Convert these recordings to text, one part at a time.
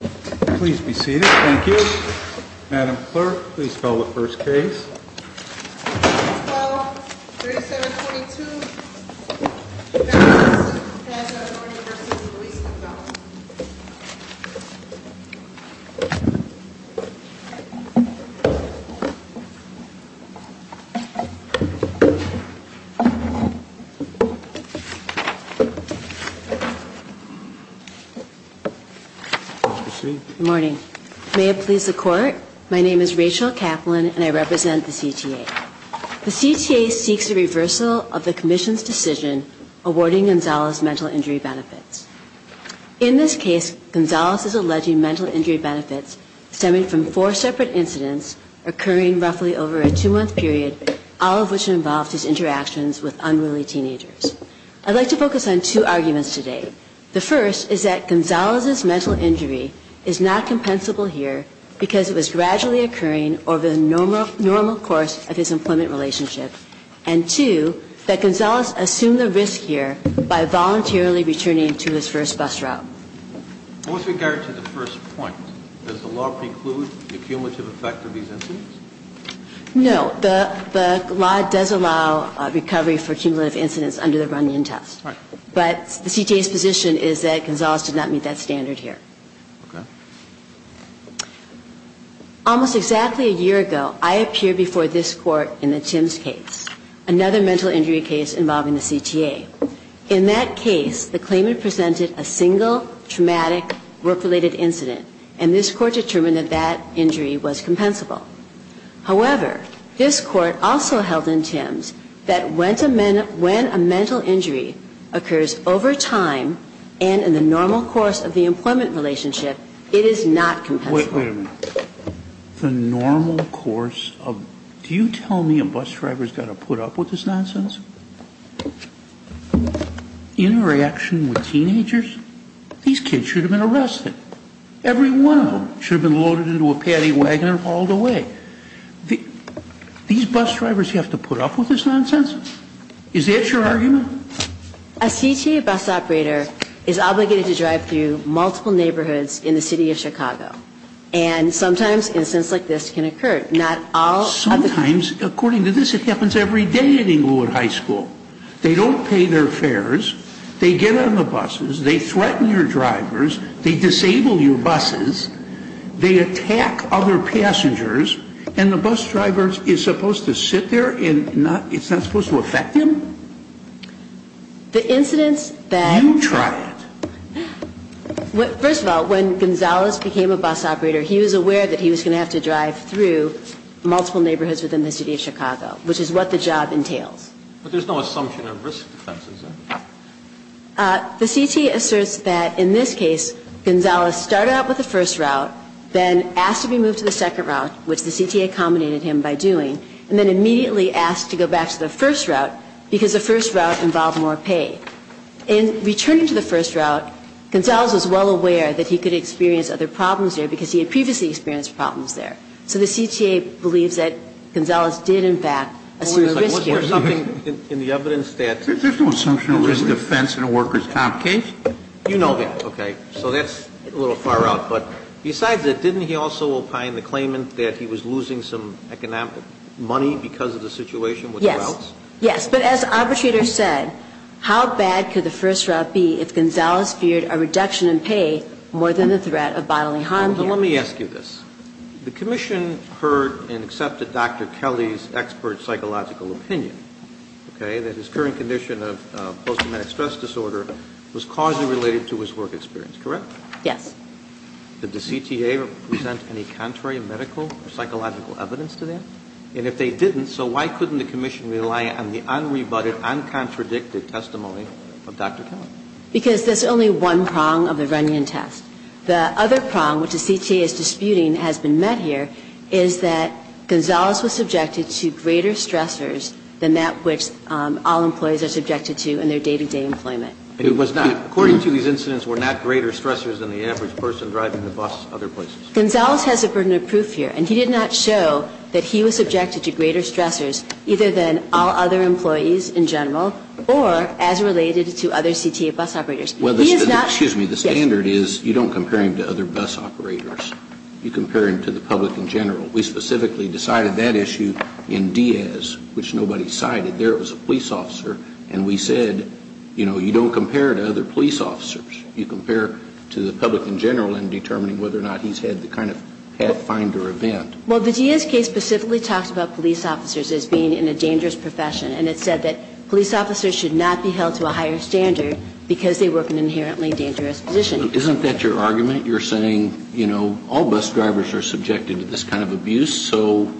Please be seated. Thank you. Madam Clerk, please spell the first case. Case No. 12-3722. Madam Clerk, please spell the first case. Good morning. May it please the Court, my name is Rachel Kaplan and I represent the CTA. The CTA seeks a reversal of the Commission's decision awarding Gonzalez mental injury benefits. In this case, Gonzalez is alleging mental injury benefits stemming from four separate incidents occurring roughly over a two-month period, all of which involved his interactions with unruly teenagers. I'd like to focus on two arguments today. The first is that Gonzalez's mental injury is not compensable here because it was gradually occurring over the normal course of his employment relationship. And two, that Gonzalez assumed the risk here by voluntarily returning to his first bus route. With regard to the first point, does the law preclude the cumulative effect of these incidents? No. The law does allow recovery for cumulative incidents under the Runyon test. Right. But the CTA's position is that Gonzalez did not meet that standard here. Okay. Almost exactly a year ago, I appeared before this Court in the Timms case, another mental injury case involving the CTA. In that case, the claimant presented a single traumatic work-related incident, and this Court determined that that injury was compensable. However, this Court also held in Timms that when a mental injury occurs over time and in the normal course of the employment relationship, it is not compensable. Wait a minute. The normal course of... Do you tell me a bus driver's got to put up with this nonsense? Interaction with teenagers? These kids should have been arrested. Every one of them should have been loaded into a paddy wagon and hauled away. These bus drivers have to put up with this nonsense? Is that your argument? A CTA bus operator is obligated to drive through multiple neighborhoods in the city of Chicago. And sometimes incidents like this can occur. Not all... Sometimes. According to this, it happens every day at Englewood High School. They don't pay their fares. They get on the buses. They threaten your drivers. They disable your buses. They attack other passengers. And the bus driver is supposed to sit there and it's not supposed to affect him? The incidents that... You try it. First of all, when Gonzales became a bus operator, he was aware that he was going to have to drive through multiple neighborhoods within the city of Chicago, which is what the job entails. But there's no assumption of risk defenses, is there? The CTA asserts that in this case, Gonzales started out with the first route, then asked to be moved to the second route, which the CTA accommodated him by doing, and then immediately asked to go back to the first route because the first route involved more pay. In returning to the first route, Gonzales was well aware that he could experience other problems there because he had previously experienced problems there. So the CTA believes that Gonzales did, in fact, assume risk here. There's no assumption of risk defense in a workers' comp case? You know that. Okay. So that's a little far out. But besides that, didn't he also opine the claimant that he was losing some economic money because of the situation with the routes? Yes. Yes. But as arbitrators said, how bad could the first route be if Gonzales feared a reduction in pay more than the threat of bodily harm here? Let me ask you this. The Commission heard and accepted Dr. Kelly's expert psychological opinion, okay, that his current condition of post-traumatic stress disorder was causally related to his work experience, correct? Yes. Did the CTA present any contrary medical or psychological evidence to that? And if they didn't, so why couldn't the Commission rely on the unrebutted, uncontradicted testimony of Dr. Kelly? Because there's only one prong of the Runyon test. The other prong, which the CTA is disputing has been met here, is that Gonzales was subjected to greater stressors than that which all employees are subjected to in their day-to-day employment. It was not. According to these incidents, were not greater stressors than the average person driving the bus other places. Gonzales has a burden of proof here, and he did not show that he was subjected to greater stressors either than all other employees in general or as related to other CTA bus operators. He is not. Excuse me. The standard is you don't compare him to other bus operators. You compare him to the public in general. We specifically decided that issue in Diaz, which nobody cited. There was a police officer, and we said, you know, you don't compare to other police officers. You compare to the public in general in determining whether or not he's had the kind of pathfinder event. Well, the Diaz case specifically talks about police officers as being in a dangerous profession, and it said that police officers should not be held to a higher standard because they work in an inherently dangerous position. Isn't that your argument? You're saying, you know, all bus drivers are subjected to this kind of abuse, so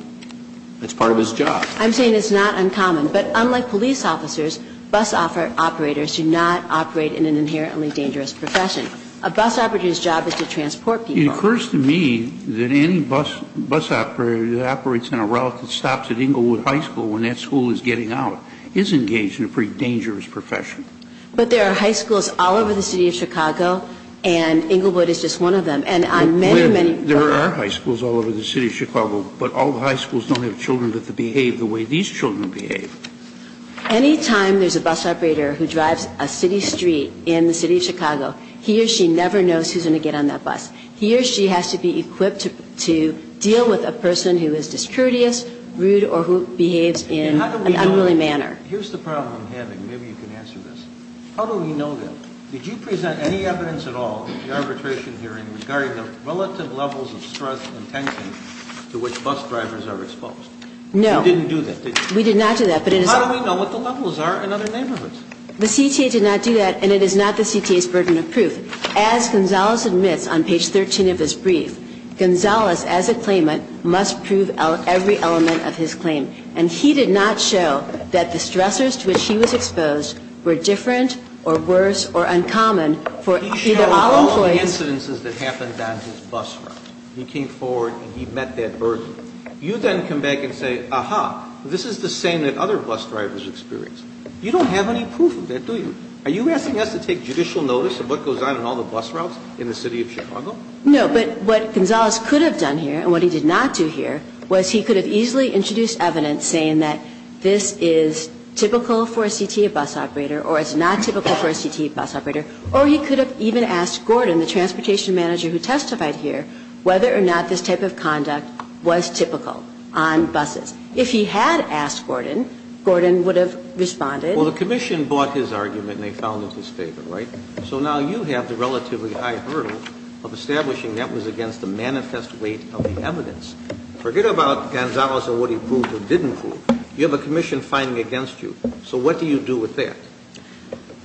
it's part of his job. I'm saying it's not uncommon. But unlike police officers, bus operators do not operate in an inherently dangerous profession. A bus operator's job is to transport people. It occurs to me that any bus operator that operates in a route that stops at Englewood High School when that school is getting out is engaged in a pretty dangerous profession. But there are high schools all over the City of Chicago, and Englewood is just one of them. There are high schools all over the City of Chicago, but all the high schools don't have children that behave the way these children behave. Any time there's a bus operator who drives a city street in the City of Chicago, he or she never knows who's going to get on that bus. He or she has to be equipped to deal with a person who is discourteous, rude, or who behaves in an unruly manner. Here's the problem I'm having. Maybe you can answer this. How do we know that? Did you present any evidence at all at the arbitration hearing regarding the relative levels of stress and tension to which bus drivers are exposed? No. You didn't do that, did you? We did not do that. How do we know what the levels are in other neighborhoods? The CTA did not do that, and it is not the CTA's burden of proof. As Gonzalez admits on page 13 of his brief, Gonzalez, as a claimant, must prove every element of his claim. And he did not show that the stressors to which he was exposed were different or worse or uncommon for either all employees. He showed all the incidences that happened on his bus route. He came forward and he met that burden. You then come back and say, aha, this is the same that other bus drivers experienced. You don't have any proof of that, do you? Are you asking us to take judicial notice of what goes on in all the bus routes in the City of Chicago? No. But what Gonzalez could have done here and what he did not do here was he could have easily introduced evidence saying that this is typical for a CTA bus operator or it's not typical for a CTA bus operator, or he could have even asked Gordon, the transportation manager who testified here, whether or not this type of conduct was typical on buses. If he had asked Gordon, Gordon would have responded. Well, the commission bought his argument and they found it was fair, right? So now you have the relatively high hurdle of establishing that was against the manifest weight of the evidence. Forget about Gonzalez and what he proved or didn't prove. You have a commission fighting against you. So what do you do with that?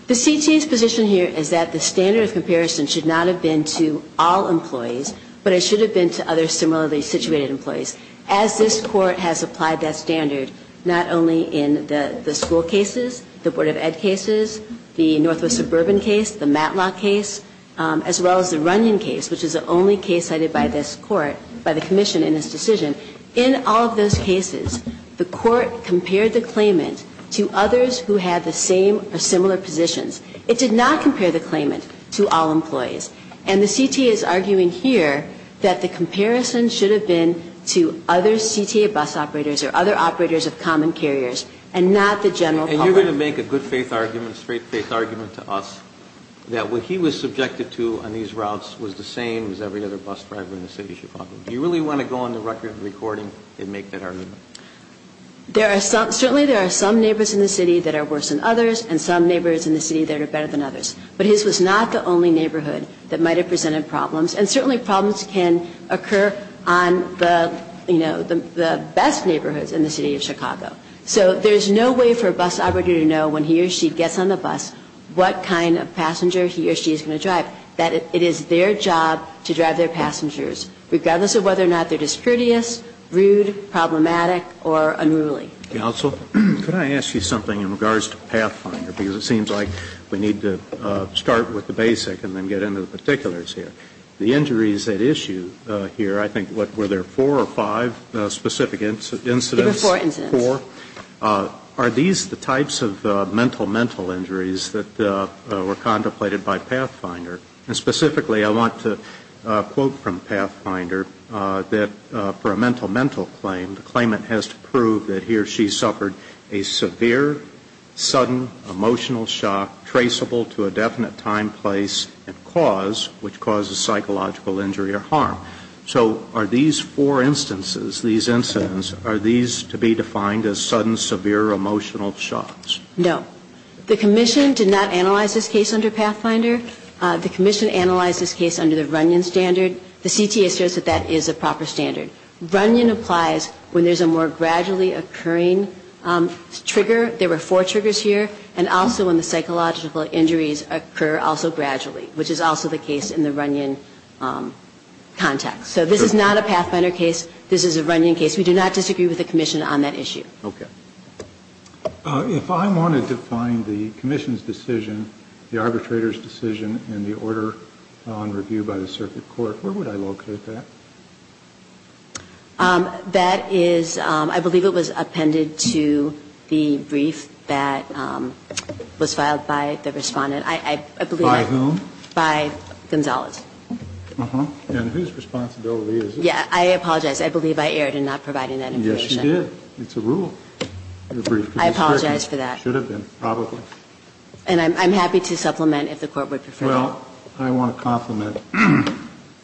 The CTA's position here is that the standard of comparison should not have been to all employees, but it should have been to other similarly situated employees. As this Court has applied that standard, not only in the school cases, the Board of Ed cases, the Northwest Suburban case, the Matlock case, as well as the Runyon case, which is the only case cited by this Court, by the commission in this decision, in all of those cases, the Court compared the claimant to others who had the same or similar positions. It did not compare the claimant to all employees. And the CTA is arguing here that the comparison should have been to other CTA bus operators or other operators of common carriers and not the general public. And you're going to make a good-faith argument, straight-faith argument to us that what he was subjected to on these routes was the same as every other bus driver in the city of Chicago. Do you really want to go on the record recording and make that argument? Certainly there are some neighbors in the city that are worse than others and some neighbors in the city that are better than others. But his was not the only neighborhood that might have presented problems. And certainly problems can occur on the, you know, the best neighborhoods in the city of Chicago. So there's no way for a bus operator to know when he or she gets on the bus what kind of passenger he or she is going to drive, that it is their job to drive their passengers, regardless of whether or not they're discretious, rude, problematic, or unruly. Counsel, could I ask you something in regards to Pathfinder? Because it seems like we need to start with the basic and then get into the particulars here. The injuries at issue here, I think, were there four or five specific incidents? There were four incidents. Four. Are these the types of mental, mental injuries that were contemplated by Pathfinder? And specifically, I want to quote from Pathfinder that for a mental, mental claim, the claimant has to prove that he or she suffered a severe, sudden emotional shock traceable to a definite time, place, and cause, which causes psychological injury or harm. So are these four instances, these incidents, are these to be defined as sudden, severe emotional shocks? No. The commission did not analyze this case under Pathfinder. The commission analyzed this case under the Runyon standard. The CTA says that that is a proper standard. Runyon applies when there's a more gradually occurring trigger. There were four triggers here. And also when the psychological injuries occur also gradually, which is also the case in the Runyon context. So this is not a Pathfinder case. This is a Runyon case. We do not disagree with the commission on that issue. Okay. If I wanted to find the commission's decision, the arbitrator's decision, in the order on review by the circuit court, where would I locate that? That is, I believe it was appended to the brief that was filed by the Respondent. I believe that. By whom? By Gonzales. Uh-huh. And whose responsibility is it? Yeah. I apologize. I believe I erred in not providing that information. Yes, you did. It's a rule. I apologize for that. It should have been, probably. And I'm happy to supplement if the Court would prefer. Well, I want to compliment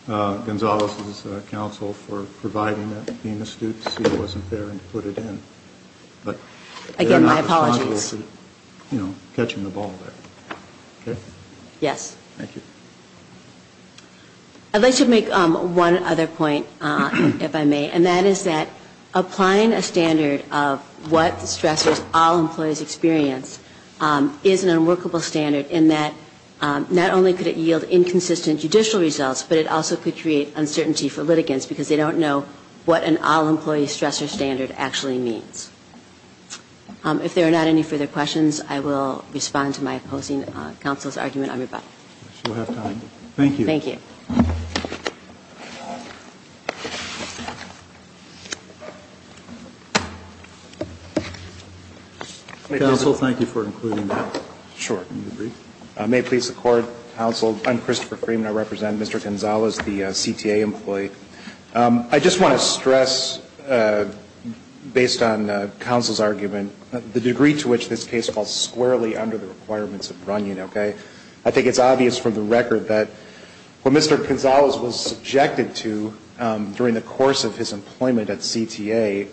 Gonzales' counsel for providing that. Being astute to see it wasn't there and put it in. But they're not responsible for, you know, catching the ball there. Okay? Yes. Thank you. I'd like to make one other point, if I may. And that is that applying a standard of what stressors all employees experience is an inconsistent judicial results, but it also could create uncertainty for litigants because they don't know what an all-employee stressor standard actually means. If there are not any further questions, I will respond to my opposing counsel's argument on rebuttal. We'll have time. Thank you. Thank you. Counsel, thank you for including that. Sure. Mr. Freeman. I'm Christopher Freeman. I represent Mr. Gonzales, the CTA employee. I just want to stress, based on counsel's argument, the degree to which this case falls squarely under the requirements of Runyon, okay? I think it's obvious from the record that what Mr. Gonzales was subjected to during the course of his employment at CTA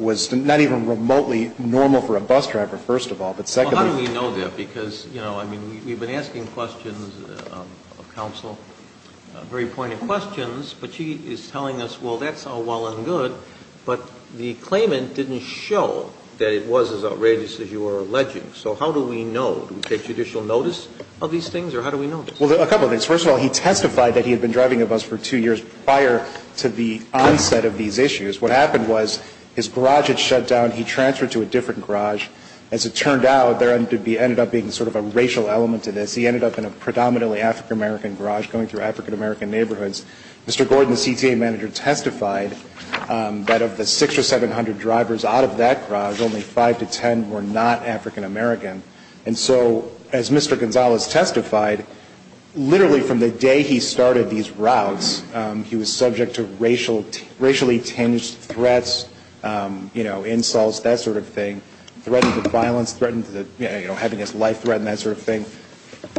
was not even remotely normal for a bus driver, first of all. Well, how do we know that? Because, you know, I mean, we've been asking questions of counsel, very pointed questions, but she is telling us, well, that's all well and good, but the claimant didn't show that it was as outrageous as you were alleging. So how do we know? Do we take judicial notice of these things, or how do we know? Well, a couple of things. First of all, he testified that he had been driving a bus for two years prior to the onset of these issues. What happened was his garage had shut down. He transferred to a different garage. As it turned out, there ended up being sort of a racial element to this. He ended up in a predominantly African-American garage going through African-American neighborhoods. Mr. Gordon, the CTA manager, testified that of the six or seven hundred drivers out of that garage, only five to ten were not African-American. And so, as Mr. Gonzales testified, literally from the day he started these routes, he was subject to racially tinged threats, you know, insults, that sort of thing, threatening with violence, having his life threatened, that sort of thing.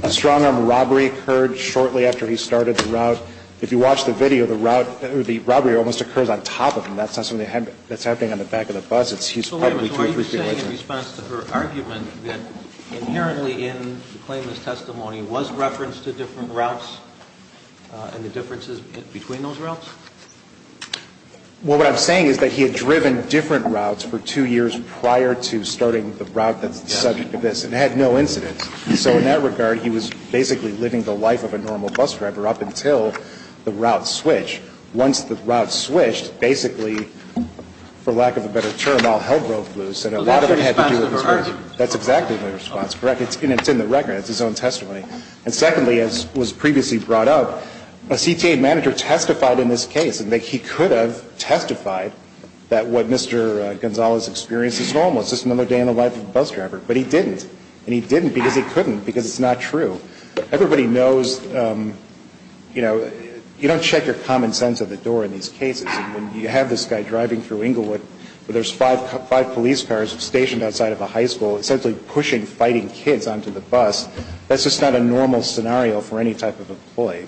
A strong-arm robbery occurred shortly after he started the route. If you watch the video, the robbery almost occurs on top of him. That's not something that's happening on the back of the bus. He's probably two or three feet away from him. So wait a minute. So are you saying in response to her argument that inherently in the claimant's testimony was reference to different routes and the differences between those routes? Well, what I'm saying is that he had driven different routes for two years prior to starting the route that's the subject of this and had no incidents. And so in that regard, he was basically living the life of a normal bus driver up until the route switched. Once the route switched, basically, for lack of a better term, all hell broke loose. And a lot of it had to do with his argument. That's exactly my response. Correct. And it's in the record. It's his own testimony. And secondly, as was previously brought up, a CTA manager testified in this case that he could have testified that what Mr. Gonzalez experienced is normal. It's just another day in the life of a bus driver. But he didn't. And he didn't because he couldn't because it's not true. Everybody knows, you know, you don't check your common sense at the door in these cases. And when you have this guy driving through Inglewood where there's five police cars stationed outside of a high school essentially pushing fighting kids onto the bus, that's just not a normal scenario for any type of employee.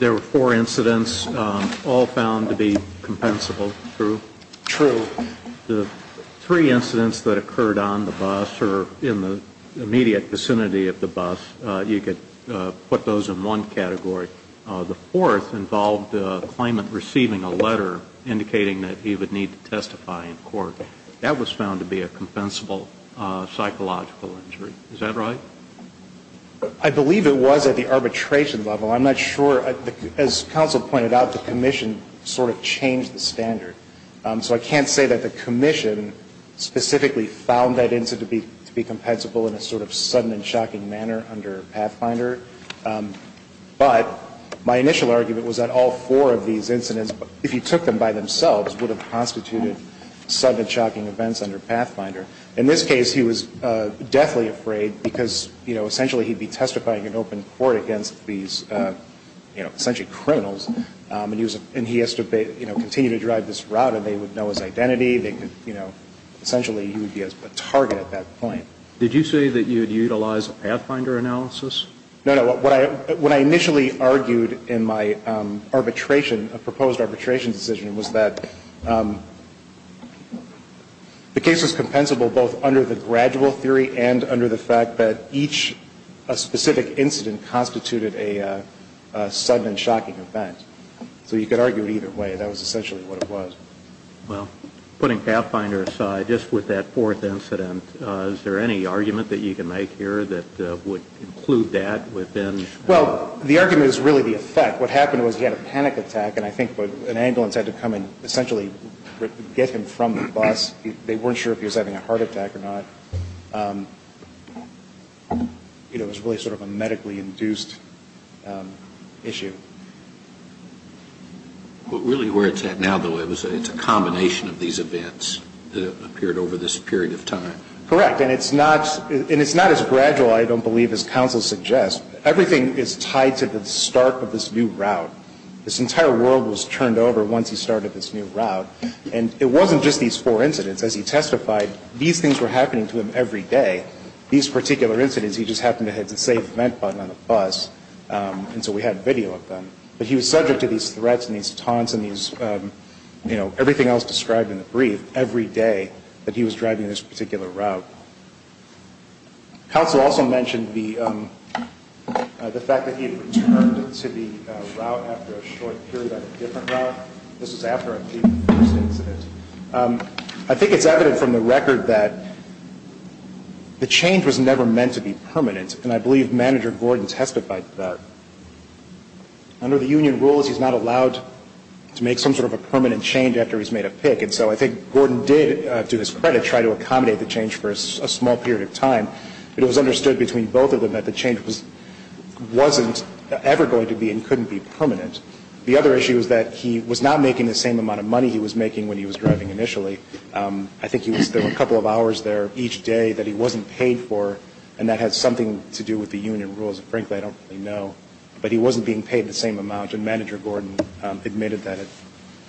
There were four incidents, all found to be compensable. True? True. The three incidents that occurred on the bus or in the immediate vicinity of the bus, you could put those in one category. The fourth involved a claimant receiving a letter indicating that he would need to testify in court. That was found to be a compensable psychological injury. Is that right? I believe it was at the arbitration level. I'm not sure. As counsel pointed out, the commission sort of changed the standard. So I can't say that the commission specifically found that incident to be compensable in a sort of sudden and shocking manner under Pathfinder. But my initial argument was that all four of these incidents, if you took them by standard, would be compensable in a sudden and shocking manner under Pathfinder. In this case, he was deathly afraid because essentially he'd be testifying in open court against these essentially criminals, and he has to continue to drive this route and they would know his identity. Essentially he would be a target at that point. Did you say that you would utilize a Pathfinder analysis? No, no. What I initially argued in my arbitration, a proposed arbitration decision, was that the case was compensable both under the gradual theory and under the fact that each specific incident constituted a sudden and shocking event. So you could argue it either way. That was essentially what it was. Well, putting Pathfinder aside, just with that fourth incident, is there any argument that you can make here that would include that within? Well, the argument is really the effect. What happened was he had a panic attack, and I think an ambulance had to come and essentially get him from the bus. They weren't sure if he was having a heart attack or not. It was really sort of a medically induced issue. Really where it's at now, though, it's a combination of these events that appeared over this period of time. Correct. And it's not as gradual, I don't believe, as counsel suggests. Everything is tied to the start of this new route. This entire world was turned over once he started this new route. And it wasn't just these four incidents. As he testified, these things were happening to him every day. These particular incidents, he just happened to have the save event button on the bus, and so we had video of them. But he was subject to these threats and these taunts and these, you know, everything else described in the brief every day that he was driving this particular route. Counsel also mentioned the fact that he had returned to the route after a short period on a different route. This was after the first incident. I think it's evident from the record that the change was never meant to be permanent, and I believe Manager Gordon testified to that. Under the union rules, he's not allowed to make some sort of a permanent change after he's made a pick. And so I think Gordon did, to his credit, try to accommodate the change for a small period of time. It was understood between both of them that the change wasn't ever going to be and couldn't be permanent. The other issue is that he was not making the same amount of money he was making when he was driving initially. I think there were a couple of hours there each day that he wasn't paid for, and that has something to do with the union rules. Frankly, I don't really know. But he wasn't being paid the same amount, and Manager Gordon admitted that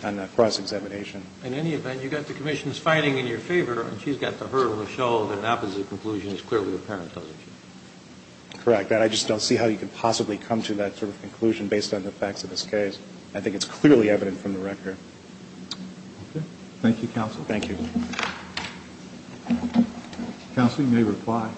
on the cross-examination. In any event, you've got the Commission's finding in your favor, and she's got the hurdle to show that an opposite conclusion is clearly apparent, doesn't she? Correct. I just don't see how you could possibly come to that sort of conclusion based on the facts of this case. I think it's clearly evident from the record. Okay. Thank you, Counsel. Thank you. Counsel, you may reply.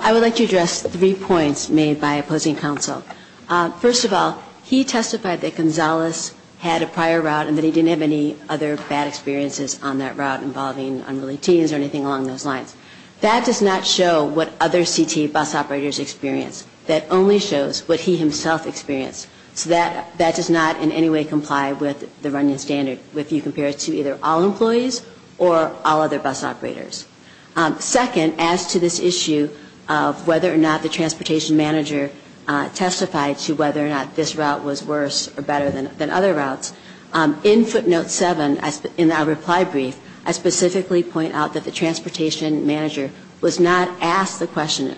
I would like to address three points made by opposing counsel. First of all, he testified that Gonzales had a prior route and that he didn't have any other bad experiences on that route involving unrelated teens or anything along those lines. That does not show what other CT bus operators experience. That only shows what he himself experienced. So that does not in any way comply with the running standard if you compare it to either all employees or all other bus operators. Second, as to this issue of whether or not the transportation manager testified to whether or not this route was worse or better than other routes, in footnote 7 in our reply brief,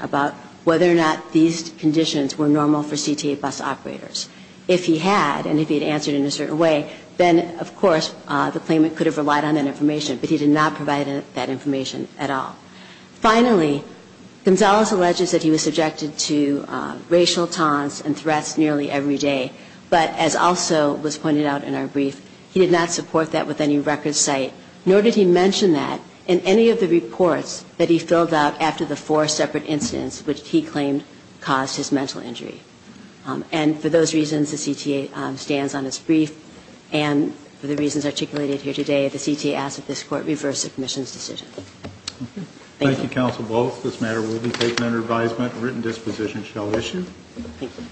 about whether or not these conditions were normal for CT bus operators. If he had, and if he had answered in a certain way, then of course the claimant could have relied on that information, but he did not provide that information at all. Finally, Gonzales alleges that he was subjected to racial taunts and threats nearly every day, but as also was pointed out in our brief, he did not support that with any record site, nor did he mention that in any of the reports that he filled out after the four separate incidents which he claimed caused his mental injury. And for those reasons, the CTA stands on its brief, and for the reasons articulated here today, the CTA asks that this Court reverse the Commission's decision. Thank you. Thank you, Counsel Bolz. This matter will be taken under advisement and written disposition shall issue. Thank you.